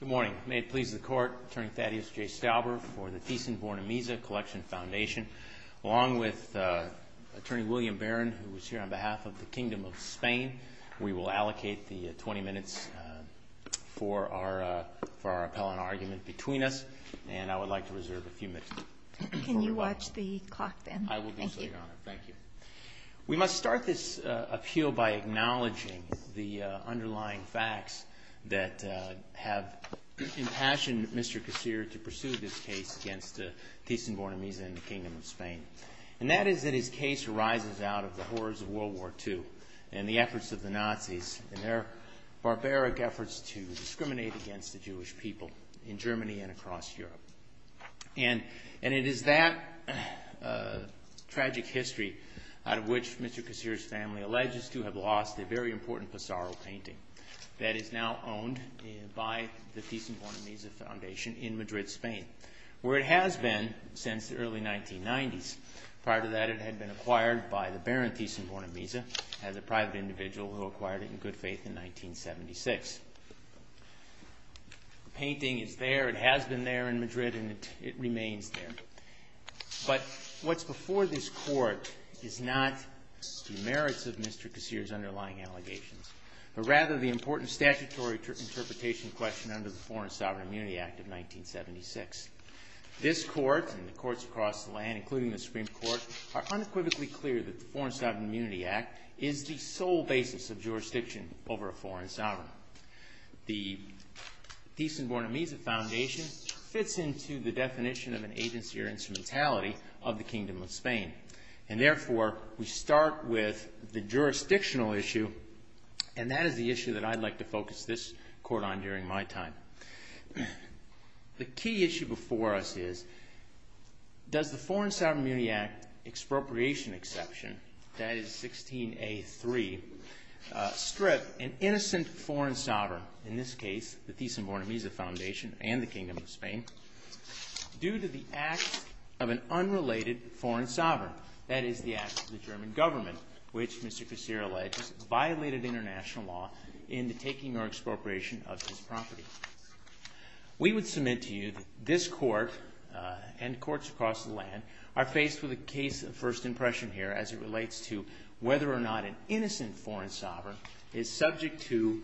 Good morning. May it please the Court, Attorney Thaddeus J. Stauber for the Thyssen-Vornemiese Collection Foundation. Along with Attorney William Barron, who is here on behalf of the Kingdom of Spain, we will allocate the 20 minutes for our appellant argument between us, and I would like to reserve a few minutes. Can you watch the clock then? I will do so, Your Honor. Thank you. We must start this appeal by acknowledging the underlying facts that have impassioned Mr. Casir to pursue this case against Thyssen-Vornemiese and the Kingdom of Spain. And that is that his case arises out of the horrors of World War II and the efforts of the Nazis and their barbaric efforts to discriminate against the Jewish people in Germany and across Europe. And it is that tragic history out of which Mr. Casir's family alleges to have lost a very important Pissarro painting that is now owned by the Thyssen-Vornemiese Foundation in Madrid, Spain, where it has been since the early 1990s. Prior to that, it had been acquired by the Baron Thyssen-Vornemiese as a private individual who acquired it in good faith in 1976. The painting is there, it has been there in Madrid, and it remains there. But what's before this Court is not the merits of Mr. Casir's underlying allegations, but rather the important statutory interpretation question under the Foreign Sovereign Immunity Act of 1976. This Court and the courts across the land, including the Supreme Court, are unequivocally clear that the Foreign Sovereign Immunity Act is the sole basis of jurisdiction over a foreign sovereign. The Thyssen-Vornemiese Foundation fits into the definition of an agency or instrumentality of the Kingdom of Spain. And therefore, we start with the jurisdictional issue, and that is the issue that I'd like to focus this Court on during my time. The key issue before us is, does the Foreign Sovereign Immunity Act expropriation exception, that is 16A3, strip an innocent foreign sovereign, in this case the Thyssen-Vornemiese Foundation and the Kingdom of Spain, due to the acts of an unrelated foreign sovereign, that is the acts of the German government, which Mr. Casir alleged violated international law in the taking or expropriation of this property. We would submit to you that this Court and courts across the land are faced with a case of first impression here as it relates to whether or not an innocent foreign sovereign is subject to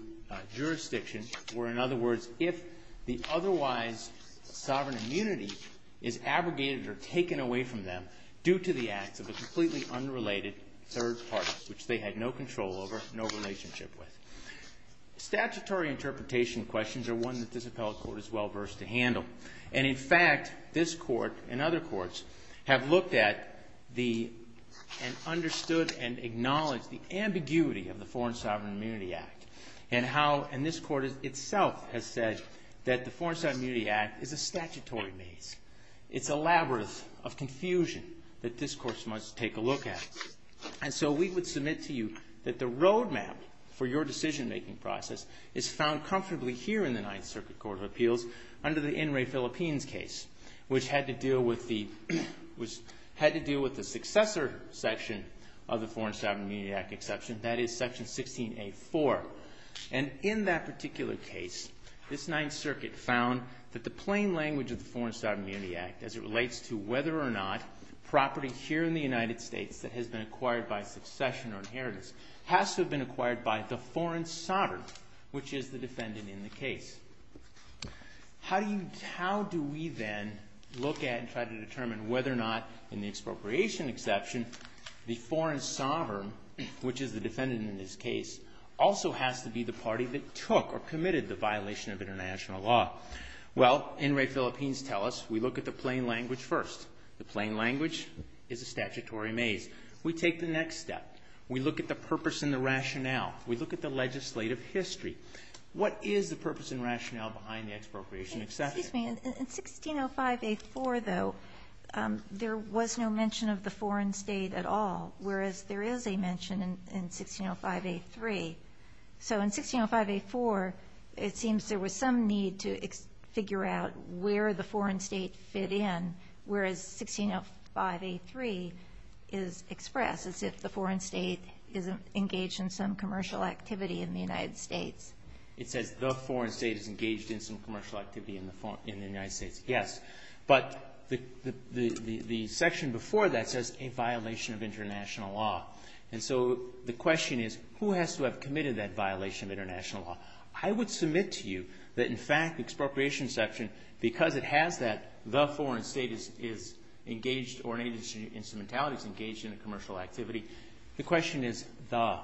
jurisdiction, or in other words, if the otherwise sovereign immunity is abrogated or taken away from them due to the acts of a completely unrelated third party, which they had no control over, no relationship with. Statutory interpretation questions are one that this Appellate Court is well versed to handle. And in fact, this Court and other courts have looked at and understood and acknowledged the ambiguity of the Foreign Sovereign Immunity Act and how, and this Court itself has said that the Foreign Sovereign Immunity Act is a statutory maze. It's a labyrinth of confusion that this Court must take a look at. And so we would submit to you that the roadmap for your decision-making process is found comfortably here in the Ninth Circuit Court of Appeals under the In re Philippines case, which had to deal with the successor section of the Foreign Sovereign Immunity Act exception, that is Section 16A4. And in that particular case, this Ninth Circuit found that the plain language of the Foreign Sovereign Immunity Act as it relates to whether or not property here in the United States that has been acquired by succession or inheritance has to have been acquired by the foreign sovereign, which is the defendant in the case. How do you, how do we then look at and try to determine whether or not in the expropriation exception the foreign sovereign, which is the defendant in this case, also has to be the party that took or committed the violation of international law? Well, in re Philippines tell us we look at the plain language first. The plain language is a statutory maze. We take the next step. We look at the purpose and the rationale. We look at the legislative history. What is the purpose and rationale behind the expropriation exception? Excuse me. In 1605A4, though, there was no mention of the foreign state at all, whereas there is a mention in 1605A3. So in 1605A4, it seems there was some need to figure out where the foreign state fit in, whereas 1605A3 is expressed as if the foreign state is engaged in some commercial activity in the United States. It says the foreign state is engaged in some commercial activity in the United States. Yes. But the section before that says a violation of international law. And so the question is who has to have committed that violation of international law? I would submit to you that, in fact, expropriation exception, because it has that the foreign state is engaged or any instrumentality is engaged in a commercial activity, the question is the,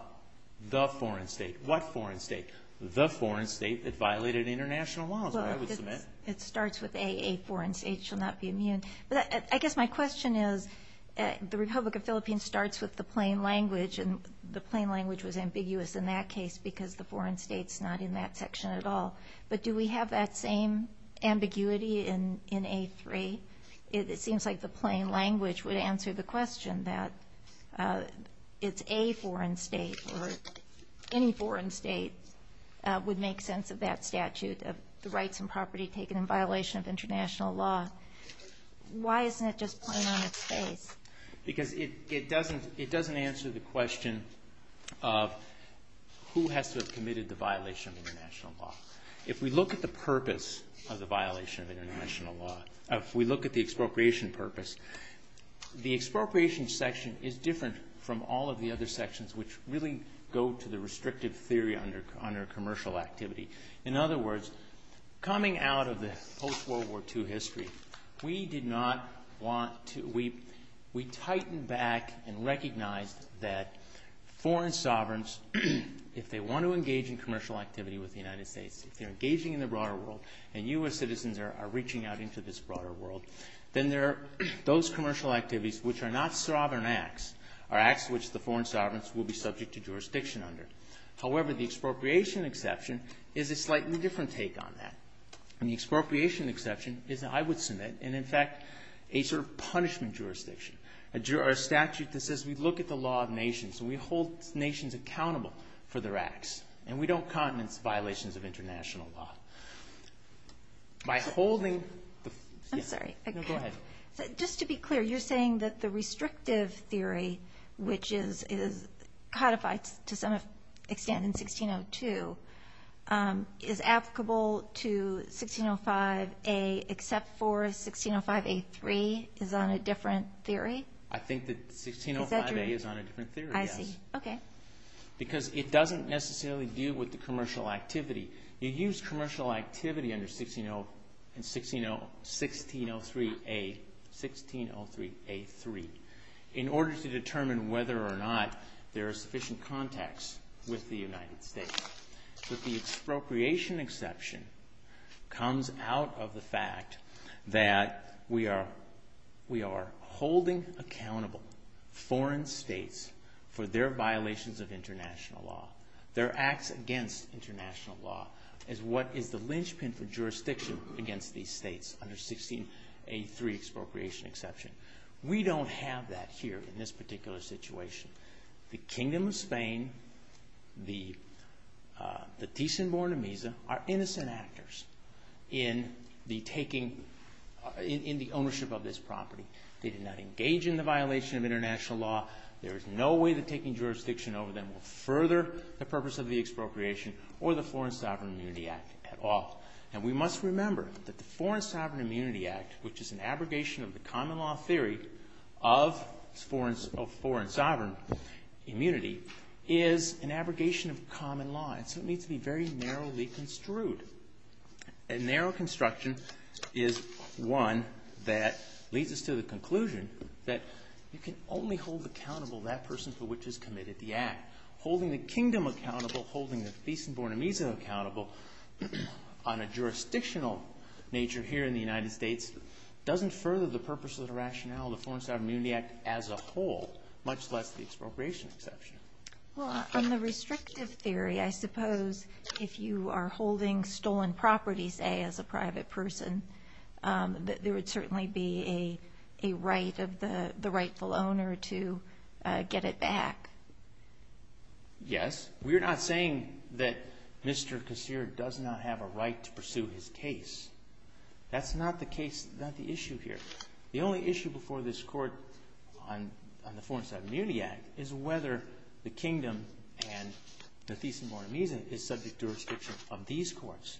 the foreign state. What foreign state? The foreign state that violated international law is what I would submit. It starts with A, a foreign state shall not be immune. But I guess my question is the Republic of Philippines starts with the plain language, and the plain language was ambiguous in that case because the foreign state is not in that section at all. But do we have that same ambiguity in A3? It seems like the plain language would answer the question that it's A, foreign state or any foreign state would make sense of that statute of the rights and property taken in violation of international law. Why isn't it just plain on its face? Because it doesn't answer the question of who has to have committed the violation of international law. If we look at the purpose of the violation of international law, if we look at the expropriation purpose, the expropriation section is different from all of the other sections which really go to the restrictive theory under commercial activity. In other words, coming out of the post-World War II history, we did not want to, we, we tightened back and recognized that foreign sovereigns, if they want to engage in commercial activity with the United States, if they're engaging in the broader world and U.S. citizens are reaching out into this broader world, then there are those commercial activities which are not sovereign acts, are acts which the foreign sovereigns will be subject to jurisdiction under. However, the expropriation exception is a slightly different take on that. And the expropriation exception is, I would submit, and in fact, a sort of punishment jurisdiction, a statute that says we look at the law of nations. We hold nations accountable for their acts. And we don't condense violations of international law. By holding the... I'm sorry. No, go ahead. Just to be clear, you're saying that the restrictive theory, which is codified to some extent in 1602, is applicable to 1605A except for 1605A3 is on a different theory? I think that 1605A is on a different theory, yes. I see. Okay. Because it doesn't necessarily deal with the commercial activity. You use commercial activity under 1603A, 1603A3, in order to determine whether or not there are sufficient contacts with the United States. But the expropriation exception comes out of the fact that we are holding accountable foreign states for their violations of international law, their acts against international law, is what is the linchpin for jurisdiction against these states under 1603 expropriation exception. We don't have that here in this particular situation. The Kingdom of Spain, the Ticin Borne Misa, are innocent actors in the ownership of this property. They did not engage in the violation of international law. There is no way that taking jurisdiction over them will further the purpose of the expropriation or the Foreign Sovereign Immunity Act at all. And we must remember that the Foreign Sovereign Immunity Act, which is an abrogation of the common law theory of foreign sovereign immunity, is an abrogation of common law. And so it needs to be very narrowly construed. And narrow construction is one that leads us to the conclusion that you can only hold accountable that person for which has committed the act. Holding the Kingdom accountable, holding the Ticin Borne Misa accountable, on a jurisdictional nature here in the United States, doesn't further the purpose of the rationale of the Foreign Sovereign Immunity Act as a whole, much less the expropriation exception. Well, on the restrictive theory, I suppose if you are holding stolen properties, say, as a private person, that there would certainly be a right of the rightful owner to get it back. Yes. We're not saying that Mr. Casir does not have a right to pursue his case. That's not the issue here. The only issue before this Court on the Foreign Sovereign Immunity Act is whether the Kingdom and the Ticin Borne Misa is subject to restriction of these courts.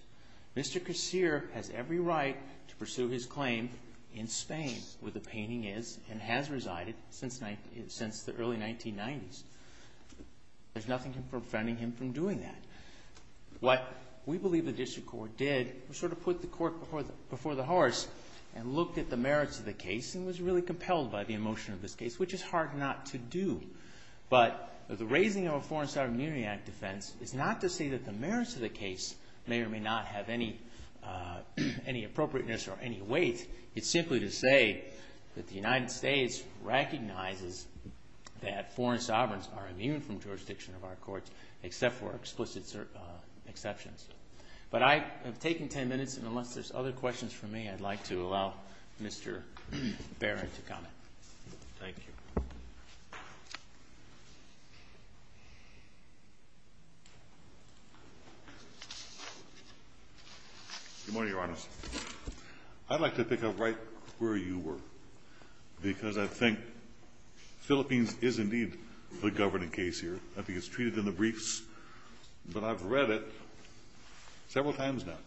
Mr. Casir has every right to pursue his claim in Spain, where the painting is, and has resided since the early 1990s. There's nothing preventing him from doing that. What we believe the district court did was sort of put the court before the horse and looked at the merits of the case and was really compelled by the emotion of this case, which is hard not to do. But the raising of a Foreign Sovereign Immunity Act defense is not to say that the merits of the case may or may not have any appropriateness or any weight. It's simply to say that the United States recognizes that foreign sovereigns are immune from jurisdiction of our courts except for explicit exceptions. But I have taken ten minutes, and unless there's other questions from me, I'd like to allow Mr. Barron to comment. Thank you. Good morning, Your Honors. I'd like to pick up right where you were, because I think Philippines is indeed the governing case here. I think it's treated in the briefs, but I've read it several times now.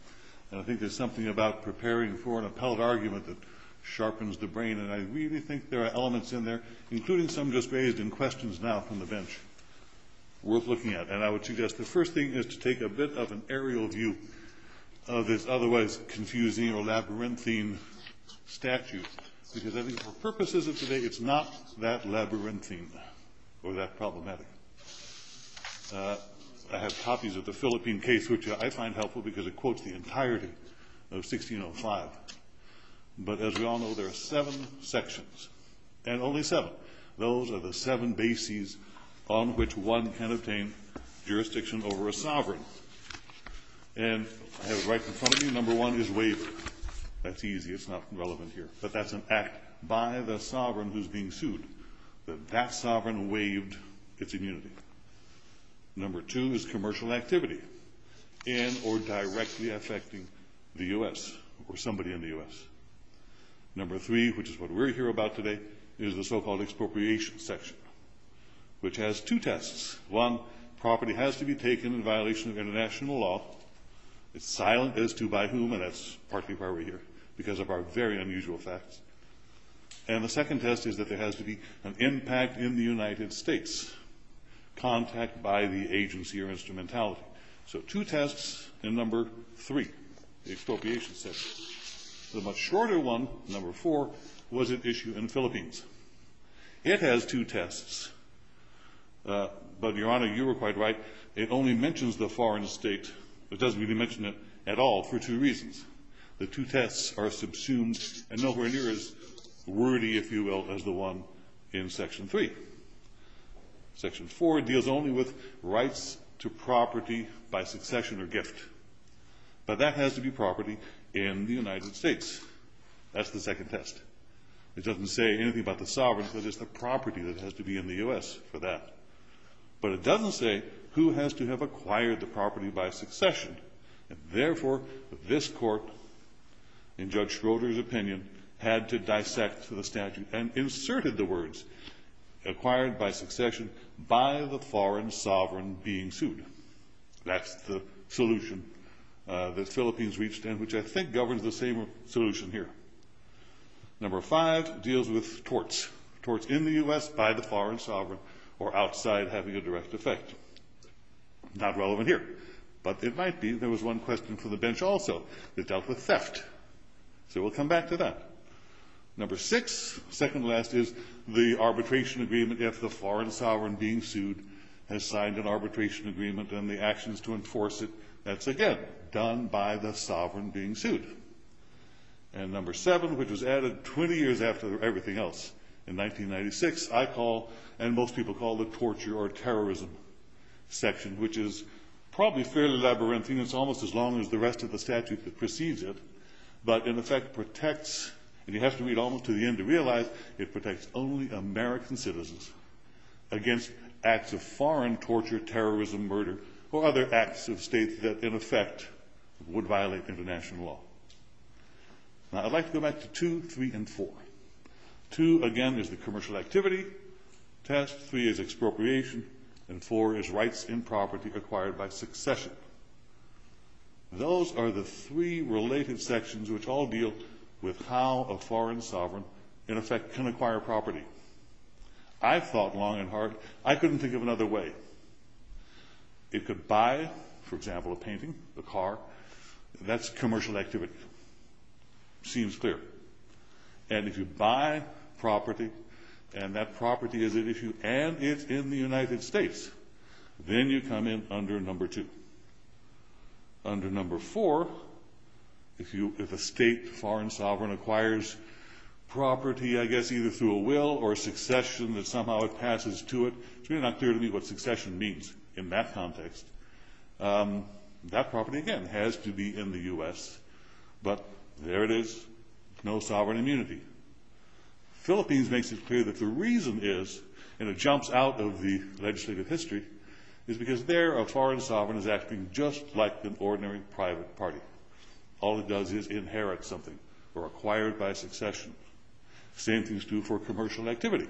And I think there's something about preparing for an appellate argument that sharpens the brain, and I really think there are elements in there, including some just raised in questions now from the bench, worth looking at. And I would suggest the first thing is to take a bit of an aerial view of this otherwise confusing or labyrinthine statute, because I think for purposes of today, it's not that labyrinthine or that problematic. I have copies of the Philippine case, which I find helpful, because it quotes the entirety of 1605. But as we all know, there are seven sections, and only seven. Those are the seven bases on which one can obtain jurisdiction over a sovereign. And I have it right in front of me. Number one is waiver. That's easy. It's not relevant here. But that's an act by the sovereign who's being sued, that that sovereign waived its immunity. Number two is commercial activity in or directly affecting the U.S. or somebody in the U.S. Number three, which is what we're here about today, is the so-called expropriation section, which has two tests. One, property has to be taken in violation of international law. It's silent as to by whom, and that's partly why we're here, because of our very unusual facts. And the second test is that there has to be an impact in the United States, contact by the agency or instrumentality. So two tests in number three, the expropriation section. The much shorter one, number four, was at issue in the Philippines. It has two tests. But, Your Honor, you were quite right. It only mentions the foreign state, but doesn't really mention it at all for two reasons. The two tests are subsumed and nowhere near as wordy, if you will, as the one in section three. Section four deals only with rights to property by succession or gift. But that has to be property in the United States. That's the second test. It doesn't say anything about the sovereignty, but it's the property that has to be in the U.S. for that. But it doesn't say who has to have acquired the property by succession. And, therefore, this Court, in Judge Schroeder's opinion, had to dissect the statute and inserted the words. Acquired by succession by the foreign sovereign being sued. That's the solution that the Philippines reached and which I think governs the same solution here. Number five deals with torts. Torts in the U.S. by the foreign sovereign or outside having a direct effect. Not relevant here, but it might be. There was one question from the bench also that dealt with theft. So we'll come back to that. Number six, second to last, is the arbitration agreement if the foreign sovereign being sued has signed an arbitration agreement and the actions to enforce it. That's, again, done by the sovereign being sued. And number seven, which was added 20 years after everything else, in 1996, I call, and most people call, the torture or terrorism section, which is probably fairly labyrinthine. It's almost as long as the rest of the statute that precedes it. But, in effect, protects, and you have to read almost to the end to realize, it protects only American citizens against acts of foreign torture, terrorism, murder, or other acts of state that, in effect, would violate international law. Now, I'd like to go back to two, three, and four. Two, again, is the commercial activity. Test three is expropriation. And four is rights in property acquired by succession. Those are the three related sections which all deal with how a foreign sovereign, in effect, can acquire property. I've thought long and hard. I couldn't think of another way. It could buy, for example, a painting, a car. That's commercial activity. Seems clear. And if you buy property, and that property is if you add it in the United States, then you come in under number two. Under number four, if a state foreign sovereign acquires property, I guess, either through a will or a succession that somehow it passes to it, it's really not clear to me what succession means in that context. That property, again, has to be in the U.S. But there it is. No sovereign immunity. Philippines makes it clear that the reason is, and it jumps out of the legislative history, is because there a foreign sovereign is acting just like an ordinary private party. All it does is inherit something or acquire it by succession. Same thing is true for commercial activity.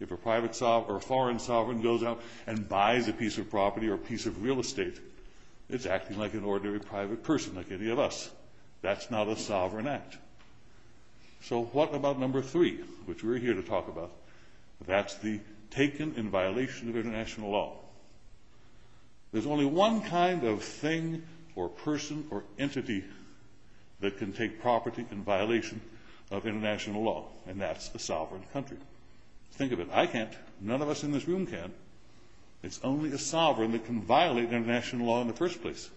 If a private sovereign or a foreign sovereign goes out and buys a piece of property or a piece of real estate, it's acting like an ordinary private person, like any of us. That's not a sovereign act. So what about number three, which we're here to talk about? That's the taken in violation of international law. There's only one kind of thing or person or entity that can take property in violation of international law, and that's a sovereign country. Think of it. I can't. None of us in this room can. It's only a sovereign that can violate international law in the first place.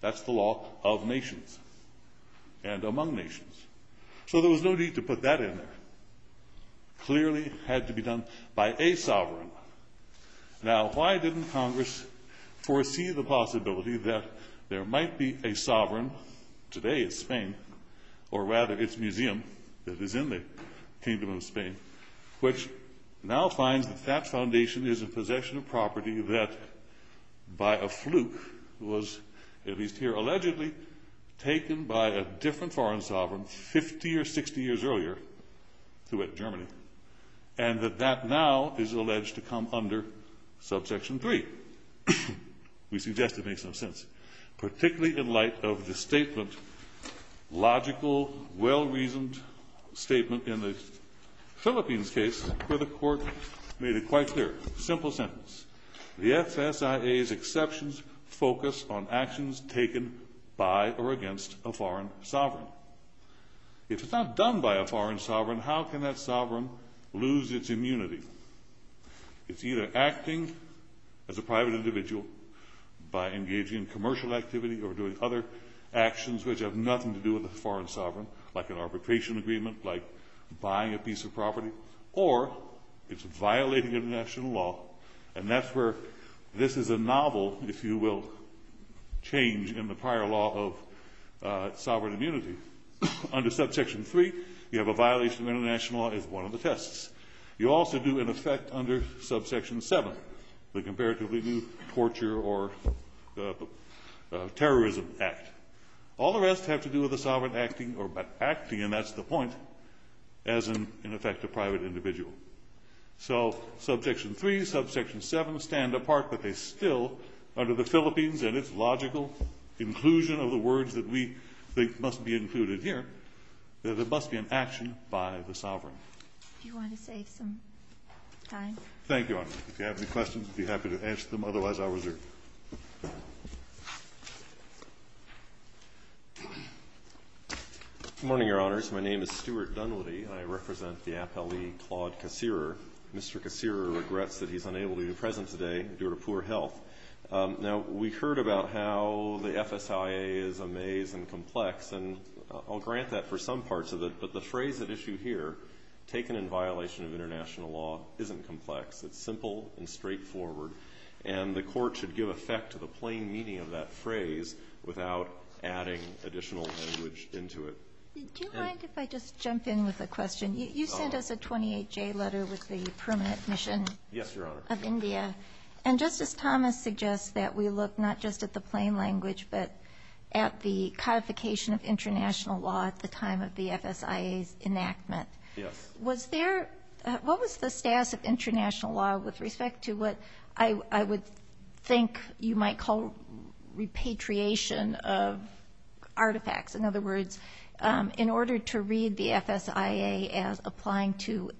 That's the law of nations and among nations. So there was no need to put that in there. Clearly had to be done by a sovereign. Now, why didn't Congress foresee the possibility that there might be a sovereign? Today it's Spain, or rather it's a museum that is in the kingdom of Spain, which now finds that that foundation is in possession of property that, by a fluke, was at least here allegedly taken by a different foreign sovereign 50 or 60 years earlier to Germany, and that that now is alleged to come under Subsection 3. We suggest it makes some sense, particularly in light of the statement, logical, well-reasoned statement in the Philippines case where the court made it quite clear. Simple sentence. The FSIA's exceptions focus on actions taken by or against a foreign sovereign. If it's not done by a foreign sovereign, how can that sovereign lose its immunity? It's either acting as a private individual by engaging in commercial activity or doing other actions which have nothing to do with a foreign sovereign, like an arbitration agreement, like buying a piece of property, or it's violating international law, and that's where this is a novel, if you will, change in the prior law of sovereign immunity. Under Subsection 3, you have a violation of international law as one of the tests. You also do, in effect, under Subsection 7, the comparatively new torture or terrorism act. All the rest have to do with the sovereign acting, and that's the point, as in effect a private individual. So Subsection 3, Subsection 7 stand apart, but they still under the Philippines and its logical inclusion of the words that we think must be included here, that there must be an action by the sovereign. Do you want to save some time? Thank you, Your Honor. If you have any questions, I'd be happy to answer them. Otherwise, I'll reserve. Good morning, Your Honors. My name is Stuart Dunwoody, and I represent the appellee Claude Kassirer. Mr. Kassirer regrets that he's unable to be present today due to poor health. Now, we heard about how the FSIA is a maze and complex, and I'll grant that for some parts of it, but the phrase at issue here, taken in violation of international law, isn't complex. It's simple and straightforward, and the Court should give effect to the plain meaning of that phrase without adding additional language into it. Do you mind if I just jump in with a question? You sent us a 28-J letter with the permanent mission of India. Yes, Your Honor. And Justice Thomas suggests that we look not just at the plain language, but at the codification of international law at the time of the FSIA's enactment. Yes. Was there ñ what was the status of international law with respect to what I would think you might call repatriation of artifacts? In other words, in order to read the FSIA as applying to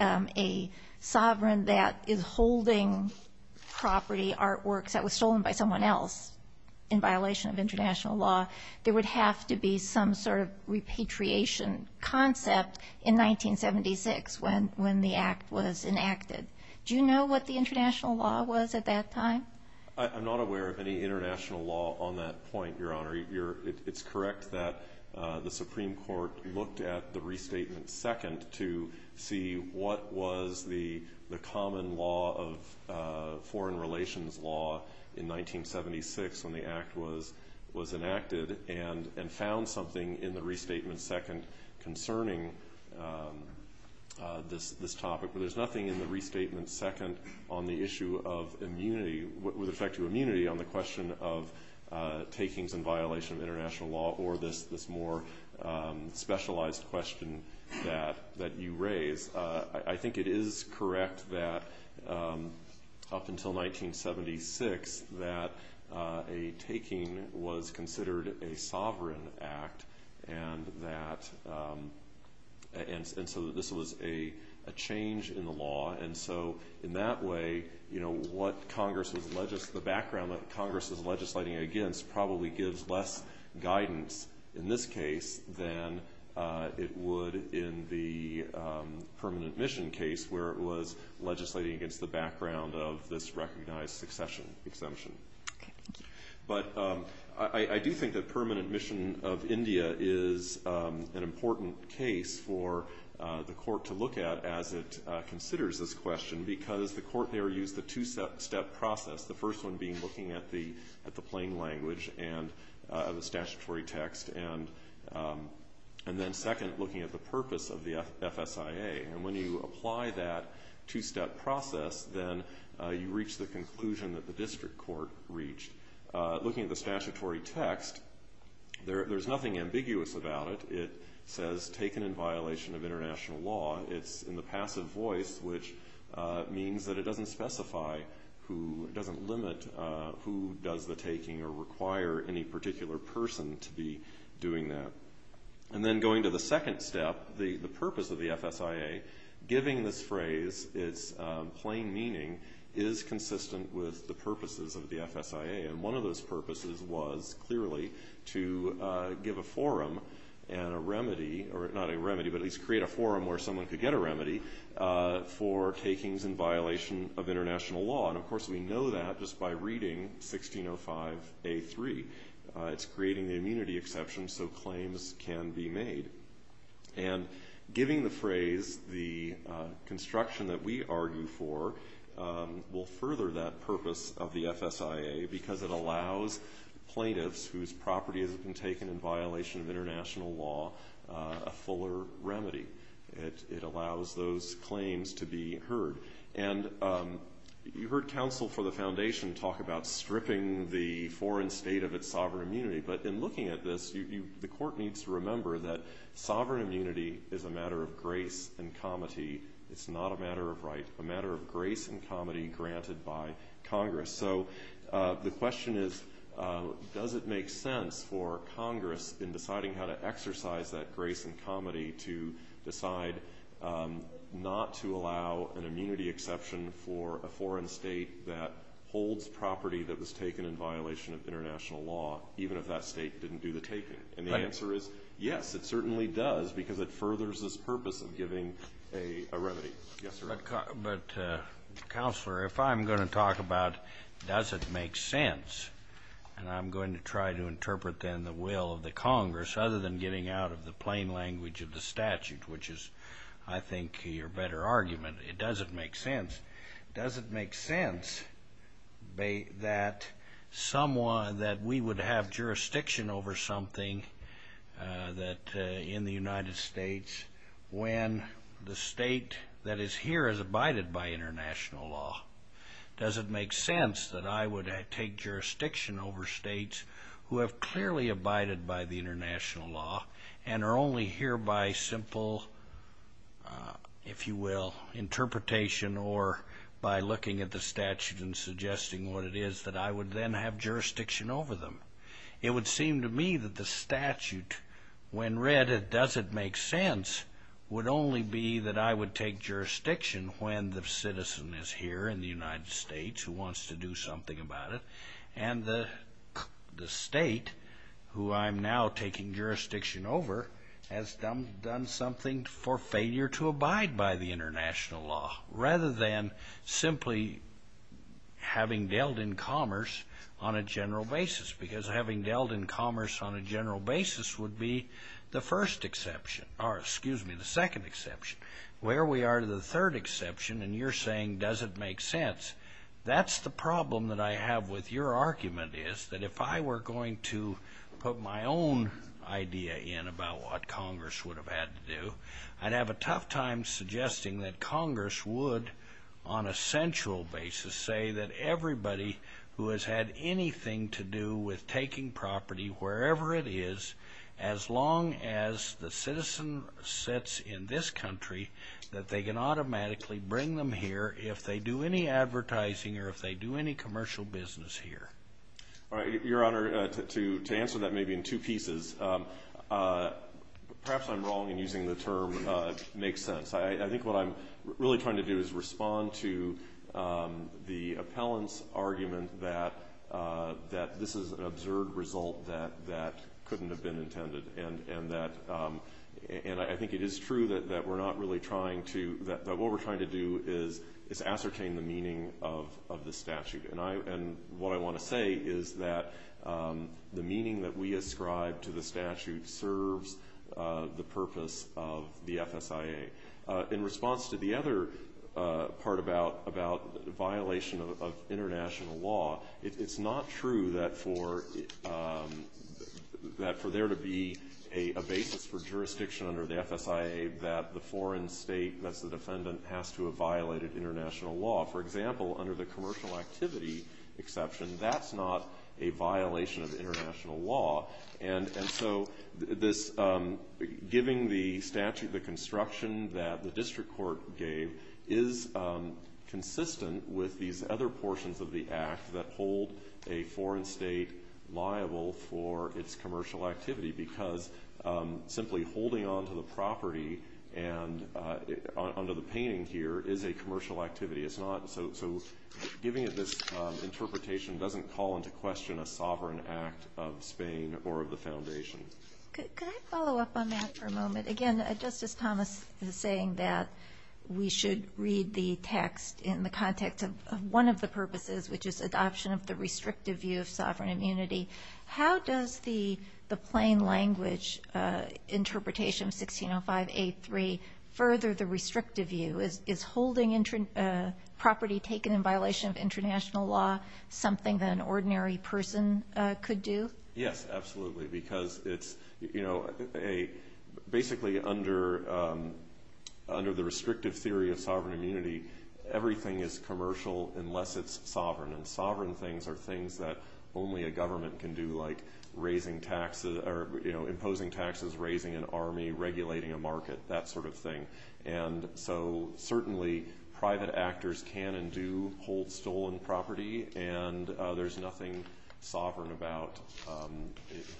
a sovereign that is holding property, artworks that were stolen by someone else in violation of international law, there would have to be some sort of repatriation concept in 1976 when the act was enacted. Do you know what the international law was at that time? I'm not aware of any international law on that point, Your Honor. It's correct that the Supreme Court looked at the restatement second to see what was the common law of foreign relations law in 1976 when the act was enacted and found something in the restatement second concerning this topic. But there's nothing in the restatement second on the issue of immunity, with respect to immunity on the question of takings in violation of international law or this more specialized question that you raise. I think it is correct that up until 1976 that a taking was considered a sovereign act and that ñ and so this was a change in the law. And so in that way, you know, what Congress was ñ the background that Congress was legislating against probably gives less guidance in this case than it would in the permanent mission case where it was legislating against the background of this recognized succession exemption. But I do think that permanent mission of India is an important case for the court to look at as it considers this question because the court there used the two-step process, the first one being looking at the plain language and the statutory text and then second, looking at the purpose of the FSIA. And when you apply that two-step process, then you reach the conclusion that the district court reached. Looking at the statutory text, there's nothing ambiguous about it. It says taken in violation of international law. It's in the passive voice, which means that it doesn't specify who ñ it doesn't limit who does the taking or require any particular person to be doing that. And then going to the second step, the purpose of the FSIA, giving this phrase its plain meaning is consistent with the purposes of the FSIA. And one of those purposes was clearly to give a forum and a remedy ñ not a remedy, but at least create a forum where someone could get a remedy for takings in violation of international law. And, of course, we know that just by reading 1605A3. It's creating the immunity exception so claims can be made. And giving the phrase the construction that we argue for will further that purpose of the FSIA because it allows plaintiffs whose property has been taken in violation of international law a fuller remedy. It allows those claims to be heard. And you heard counsel for the foundation talk about stripping the foreign state of its sovereign immunity. But in looking at this, the court needs to remember that sovereign immunity is a matter of grace and comity. It's not a matter of right, a matter of grace and comity granted by Congress. So the question is, does it make sense for Congress in deciding how to exercise that grace and comity to decide not to allow an immunity exception for a foreign state that holds property that was taken in violation of international law, even if that state didn't do the taking? And the answer is, yes, it certainly does because it furthers this purpose of giving a remedy. But, Counselor, if I'm going to talk about does it make sense, and I'm going to try to interpret then the will of the Congress other than getting out of the plain language of the statute, which is, I think, your better argument, it doesn't make sense. Does it make sense that we would have jurisdiction over something that in the United States when the state that is here is abided by international law? Does it make sense that I would take jurisdiction over states who have clearly abided by the international law and are only here by simple, if you will, interpretation or by looking at the statute and suggesting what it is that I would then have jurisdiction over them? It would seem to me that the statute, when read, does it make sense, would only be that I would take jurisdiction when the citizen is here in the United States who wants to do something about it, and the state who I'm now taking jurisdiction over has done something for failure to abide by the international law rather than simply having dealt in commerce on a general basis, because having dealt in commerce on a general basis would be the first exception, or excuse me, the second exception. Where we are to the third exception, and you're saying does it make sense, that's the problem that I have with your argument is that if I were going to put my own idea in about what Congress would have had to do, I'd have a tough time suggesting that Congress would, on a central basis, say that everybody who has had anything to do with taking property, wherever it is, as long as the citizen sits in this country, that they can automatically bring them here if they do any advertising or if they do any commercial business here. Your Honor, to answer that maybe in two pieces, perhaps I'm wrong in using the term makes sense. I think what I'm really trying to do is respond to the appellant's argument that this is an absurd result that couldn't have been intended, and I think it is true that what we're trying to do is ascertain the meaning of the statute. And what I want to say is that the meaning that we ascribe to the statute serves the purpose of the FSIA. In response to the other part about violation of international law, it's not true that for there to be a basis for jurisdiction under the FSIA that the foreign state, that's the defendant, has to have violated international law. For example, under the commercial activity exception, that's not a violation of international law. And so giving the statute, the construction that the district court gave, is consistent with these other portions of the Act that hold a foreign state liable for its commercial activity because simply holding onto the property under the painting here is a commercial activity. So giving it this interpretation doesn't call into question a sovereign act of Spain or of the Foundation. Could I follow up on that for a moment? Again, Justice Thomas is saying that we should read the text in the context of one of the purposes, which is adoption of the restrictive view of sovereign immunity. How does the plain language interpretation of 1605A3 further the restrictive view? Is holding property taken in violation of international law something that an ordinary person could do? Yes, absolutely, because it's basically under the restrictive theory of sovereign immunity, everything is commercial unless it's sovereign. And sovereign things are things that only a government can do, like imposing taxes, raising an army, regulating a market, that sort of thing. And so certainly private actors can and do hold stolen property, and there's nothing sovereign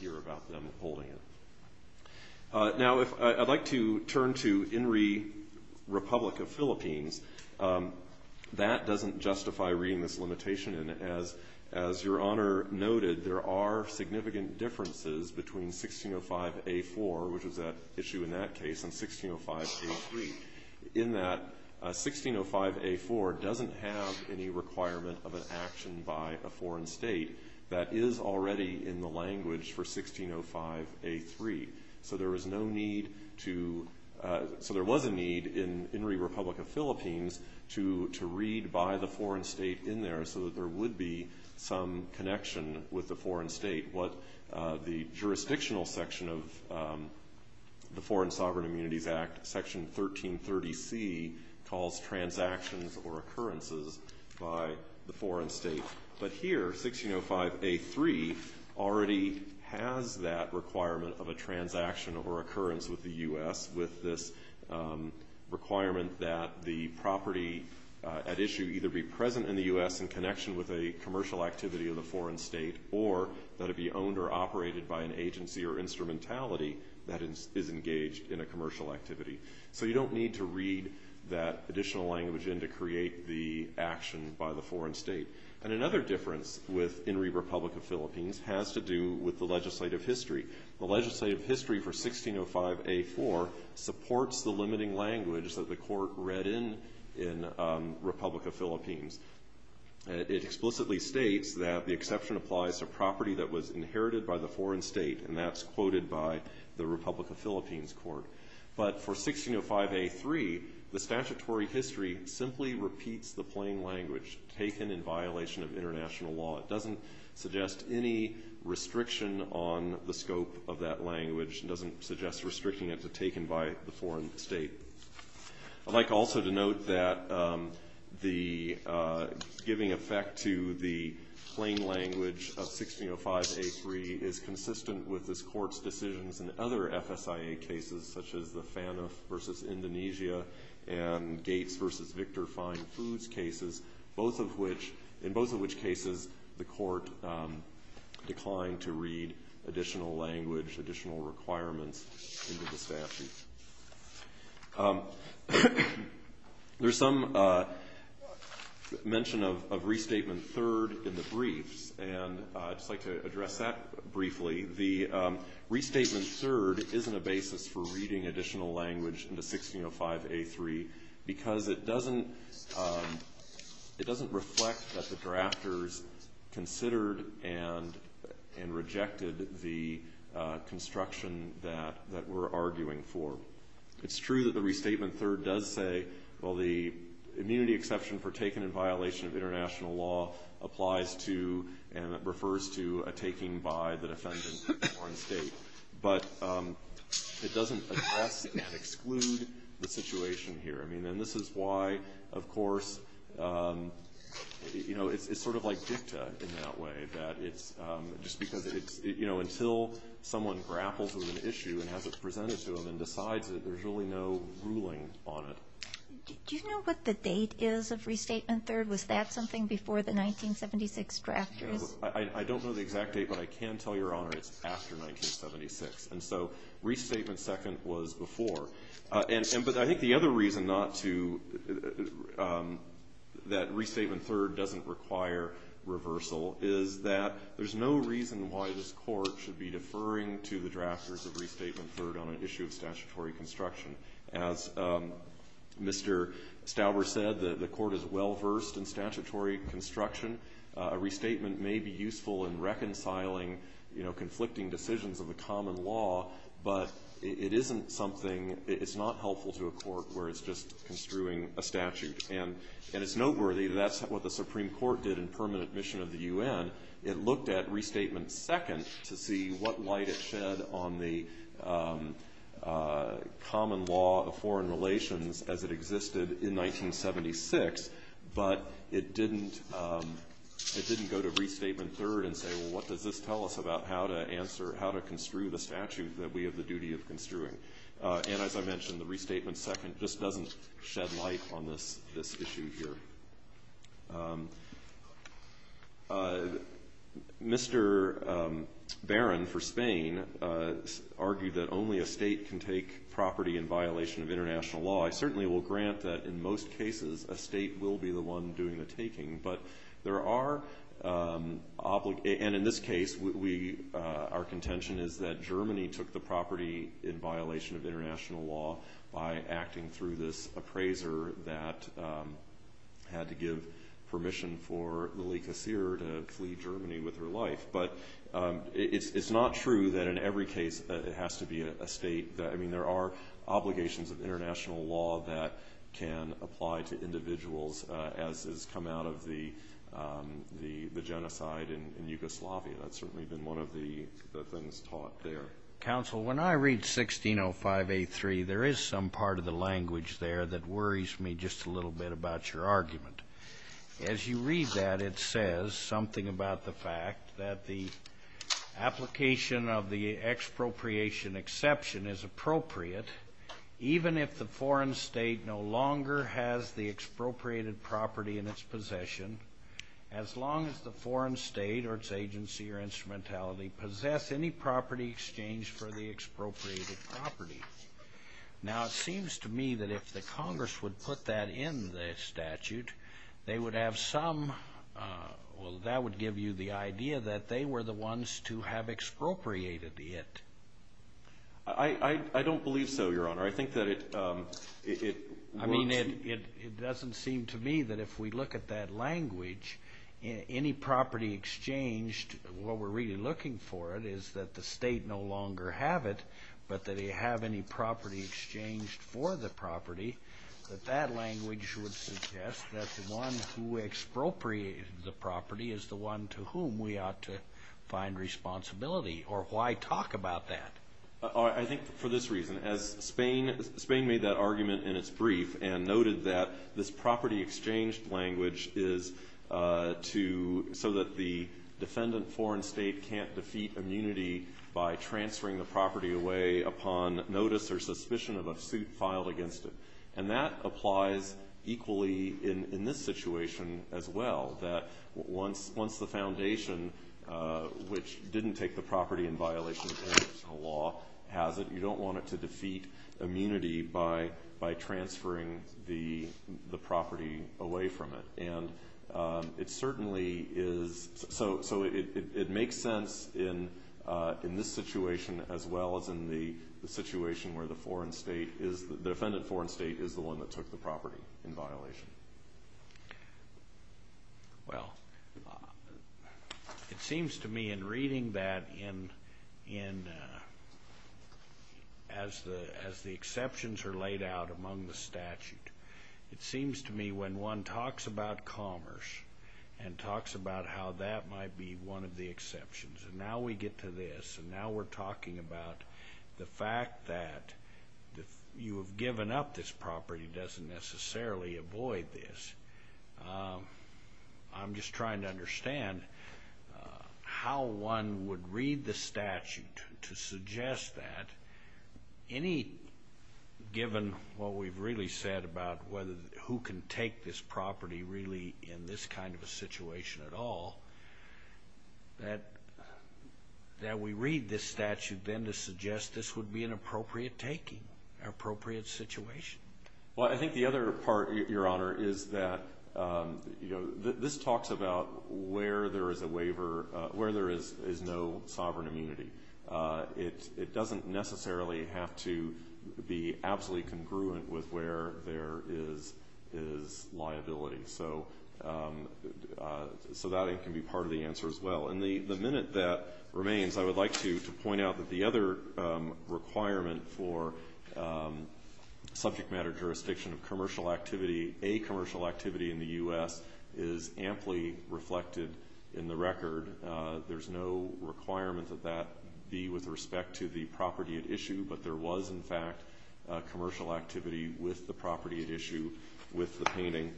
here about them holding it. Now I'd like to turn to INRI, Republic of Philippines. That doesn't justify reading this limitation, and as Your Honor noted, there are significant differences between 1605A4, which was at issue in that case, and 1605A3, in that 1605A4 doesn't have any requirement of an action by a foreign state that is already in the language for 1605A3. So there was a need in INRI, Republic of Philippines, to read by the foreign state in there so that there would be some connection with the foreign state. What the jurisdictional section of the Foreign Sovereign Immunities Act, Section 1330C, calls transactions or occurrences by the foreign state. But here, 1605A3 already has that requirement of a transaction or occurrence with the U.S. with this requirement that the property at issue either be present in the U.S. in connection with a commercial activity of the foreign state or that it be owned or operated by an agency or instrumentality that is engaged in a commercial activity. So you don't need to read that additional language in to create the action by the foreign state. And another difference with INRI, Republic of Philippines, has to do with the legislative history. The legislative history for 1605A4 supports the limiting language that the court read in in Republic of Philippines. It explicitly states that the exception applies to property that was inherited by the foreign state, and that's quoted by the Republic of Philippines court. But for 1605A3, the statutory history simply repeats the plain language taken in violation of international law. It doesn't suggest any restriction on the scope of that language. It doesn't suggest restricting it to taken by the foreign state. I'd like also to note that the giving effect to the plain language of 1605A3 is consistent with this court's decisions in other FSIA cases, such as the FANUF v. Indonesia and Gates v. Victor Fine Foods cases, both of which in both of which cases the court declined to read additional language, additional requirements into the statute. There's some mention of restatement third in the briefs, and I'd just like to address that briefly. The restatement third isn't a basis for reading additional language into 1605A3 because it doesn't reflect that the drafters considered and rejected the construction that we're arguing for. It's true that the restatement third does say, well, the immunity exception for taken in violation of international law applies to and refers to a taking by the defendant in a foreign state. But it doesn't address and exclude the situation here. I mean, and this is why, of course, you know, it's sort of like dicta in that way, that it's just because it's, you know, until someone grapples with an issue and has it presented to them and decides that there's really no ruling on it. Do you know what the date is of restatement third? Was that something before the 1976 drafters? I don't know the exact date, but I can tell Your Honor it's after 1976. And so restatement second was before. But I think the other reason not to, that restatement third doesn't require reversal, is that there's no reason why this Court should be deferring to the drafters of restatement third on an issue of statutory construction. As Mr. Stauber said, the Court is well-versed in statutory construction. A restatement may be useful in reconciling, you know, conflicting decisions of the common law, but it isn't something, it's not helpful to a court where it's just construing a statute. And it's noteworthy that that's what the Supreme Court did in permanent mission of the U.N. It looked at restatement second to see what light it shed on the common law of foreign relations as it existed in 1976, but it didn't go to restatement third and say, well, what does this tell us about how to answer, how to construe the statute that we have the duty of construing? And as I mentioned, the restatement second just doesn't shed light on this issue here. Mr. Barron for Spain argued that only a state can take property in violation of international law. I certainly will grant that in most cases a state will be the one doing the taking, but there are, and in this case, our contention is that Germany took the property in violation of international law by acting through this appraiser that had to give permission for Lelika Seer to flee Germany with her life. But it's not true that in every case it has to be a state. I mean, there are obligations of international law that can apply to individuals as has come out of the genocide in Yugoslavia. That's certainly been one of the things taught there. Counsel, when I read 1605A3, there is some part of the language there that worries me just a little bit about your argument. As you read that, it says something about the fact that the application of the expropriation exception is appropriate even if the foreign state no longer has the expropriated property in its possession as long as the foreign state or its agency or instrumentality possess any property exchange for the expropriated property. Now, it seems to me that if the Congress would put that in the statute, they would have some, well, that would give you the idea that they were the ones to have expropriated it. I don't believe so, Your Honor. I think that it works. I mean, it doesn't seem to me that if we look at that language, any property exchanged, what we're really looking for is that the state no longer have it, but that they have any property exchanged for the property, that that language would suggest that the one who expropriated the property is the one to whom we ought to find responsibility. Or why talk about that? I think for this reason, as Spain made that argument in its brief and noted that this property exchange language is so that the defendant foreign state can't defeat immunity by transferring the property away upon notice or suspicion of a suit filed against it. And that applies equally in this situation as well, that once the foundation, which didn't take the property in violation of international law, has it, you don't want it to defeat immunity by transferring the property away from it. And it certainly is, so it makes sense in this situation as well as in the situation where the foreign state is, the defendant foreign state is the one that took the property in violation. Well, it seems to me in reading that as the exceptions are laid out among the statute, it seems to me when one talks about commerce and talks about how that might be one of the exceptions, and now we get to this, and now we're talking about the fact that you have given up this property doesn't necessarily avoid this. I'm just trying to understand how one would read the statute to suggest that, any given what we've really said about who can take this property really in this kind of a situation at all, that we read this statute then to suggest this would be an appropriate taking, an appropriate situation. Well, I think the other part, Your Honor, is that this talks about where there is a waiver, where there is no sovereign immunity. It doesn't necessarily have to be absolutely congruent with where there is liability. So that can be part of the answer as well. And the minute that remains, I would like to point out that the other requirement for subject matter jurisdiction of commercial activity, a commercial activity in the U.S., is amply reflected in the record. There's no requirement that that be with respect to the property at issue, but there was, in fact, commercial activity with the property at issue with the painting.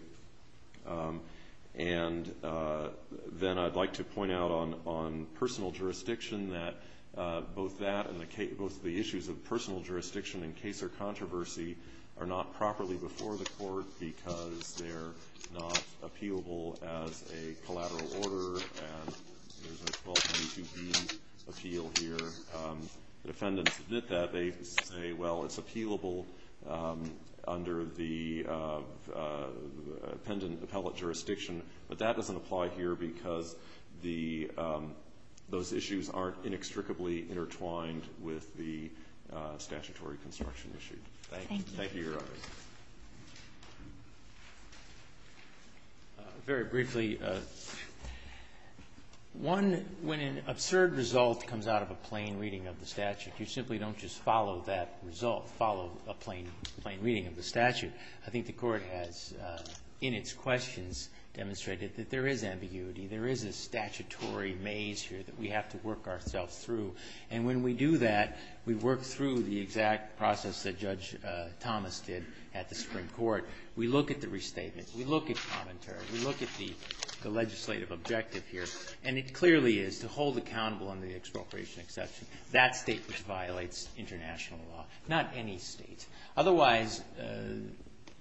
And then I'd like to point out on personal jurisdiction that both that and both the issues of personal jurisdiction in case or controversy are not properly before the court because they're not appealable as a collateral order, and there's a 1222B appeal here. The defendants admit that. They say, well, it's appealable under the appellate jurisdiction, but that doesn't apply here because those issues aren't inextricably intertwined with the statutory construction issue. Thank you. Thank you, Your Honor. Very briefly, one, when an absurd result comes out of a plain reading of the statute, you simply don't just follow that result, follow a plain reading of the statute. I think the Court has, in its questions, demonstrated that there is ambiguity, there is a statutory maze here that we have to work ourselves through. And when we do that, we work through the exact process that Judge Thomas did at the Supreme Court. We look at the restatement. We look at commentary. We look at the legislative objective here, and it clearly is to hold accountable under the expropriation exception that state which violates international law, not any state. Otherwise,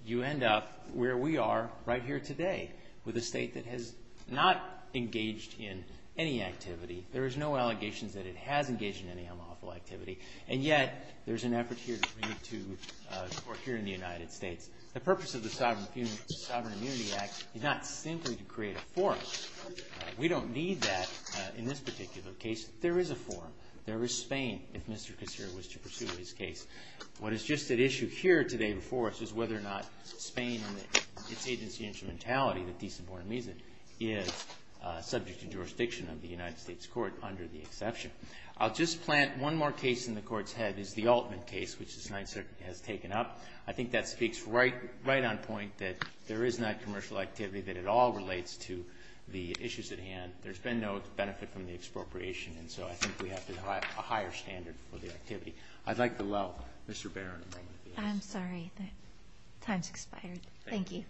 you end up where we are right here today with a state that has not engaged in any activity. There is no allegations that it has engaged in any unlawful activity, and yet there's an effort here to bring it to the Court here in the United States. The purpose of the Sovereign Immunity Act is not simply to create a forum. We don't need that in this particular case. There is a forum. There is Spain, if Mr. Kucera was to pursue his case. What is just at issue here today before us is whether or not Spain and its agency instrumentality, the Decent Born Amnesia, is subject to jurisdiction of the United States Court under the exception. I'll just plant one more case in the Court's head is the Altman case, which the Senate has taken up. I think that speaks right on point that there is not commercial activity, that it all relates to the issues at hand. There's been no benefit from the expropriation, and so I think we have to have a higher standard for the activity. I'd like to allow Mr. Barron a moment. I'm sorry. Time's expired. Thank you.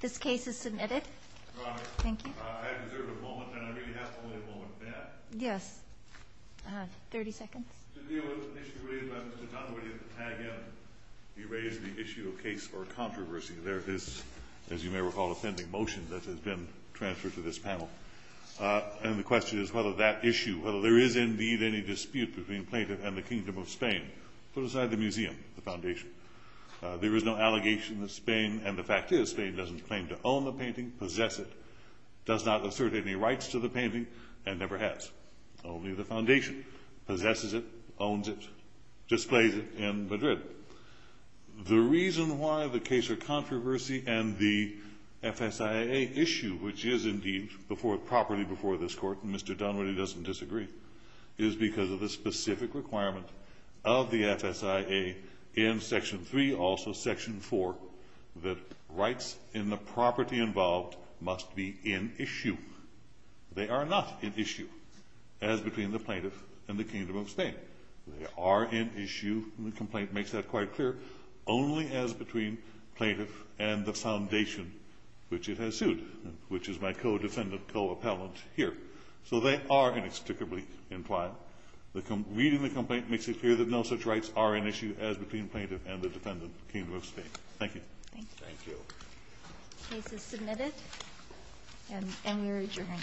This case is submitted. Thank you. I deserve a moment, and I really have only a moment for that. Yes. I have 30 seconds. The deal was initially raised by Mr. Conway, but he had to tag in and erase the issue of case or controversy. There is, as you may recall, a pending motion that has been transferred to this panel. And the question is whether that issue, whether there is indeed any dispute between plaintiff and the Kingdom of Spain, put aside the museum, the foundation. There is no allegation that Spain, and the fact is, Spain doesn't claim to own the painting, possess it, does not assert any rights to the painting, and never has. Only the foundation possesses it, owns it, displays it in Madrid. The reason why the case or controversy and the FSIA issue, which is indeed properly before this Court, and Mr. Dunwoody doesn't disagree, is because of the specific requirement of the FSIA in Section 3, also Section 4, that rights in the property involved must be in issue. They are not in issue, as between the plaintiff and the Kingdom of Spain. They are in issue, and the complaint makes that quite clear, only as between plaintiff and the foundation which it has sued, which is my co-defendant, co-appellant here. So they are inexplicably implied. Reading the complaint makes it clear that no such rights are in issue as between plaintiff and the defendant, the Kingdom of Spain. Thank you. Thank you. The case is submitted, and we read your hand.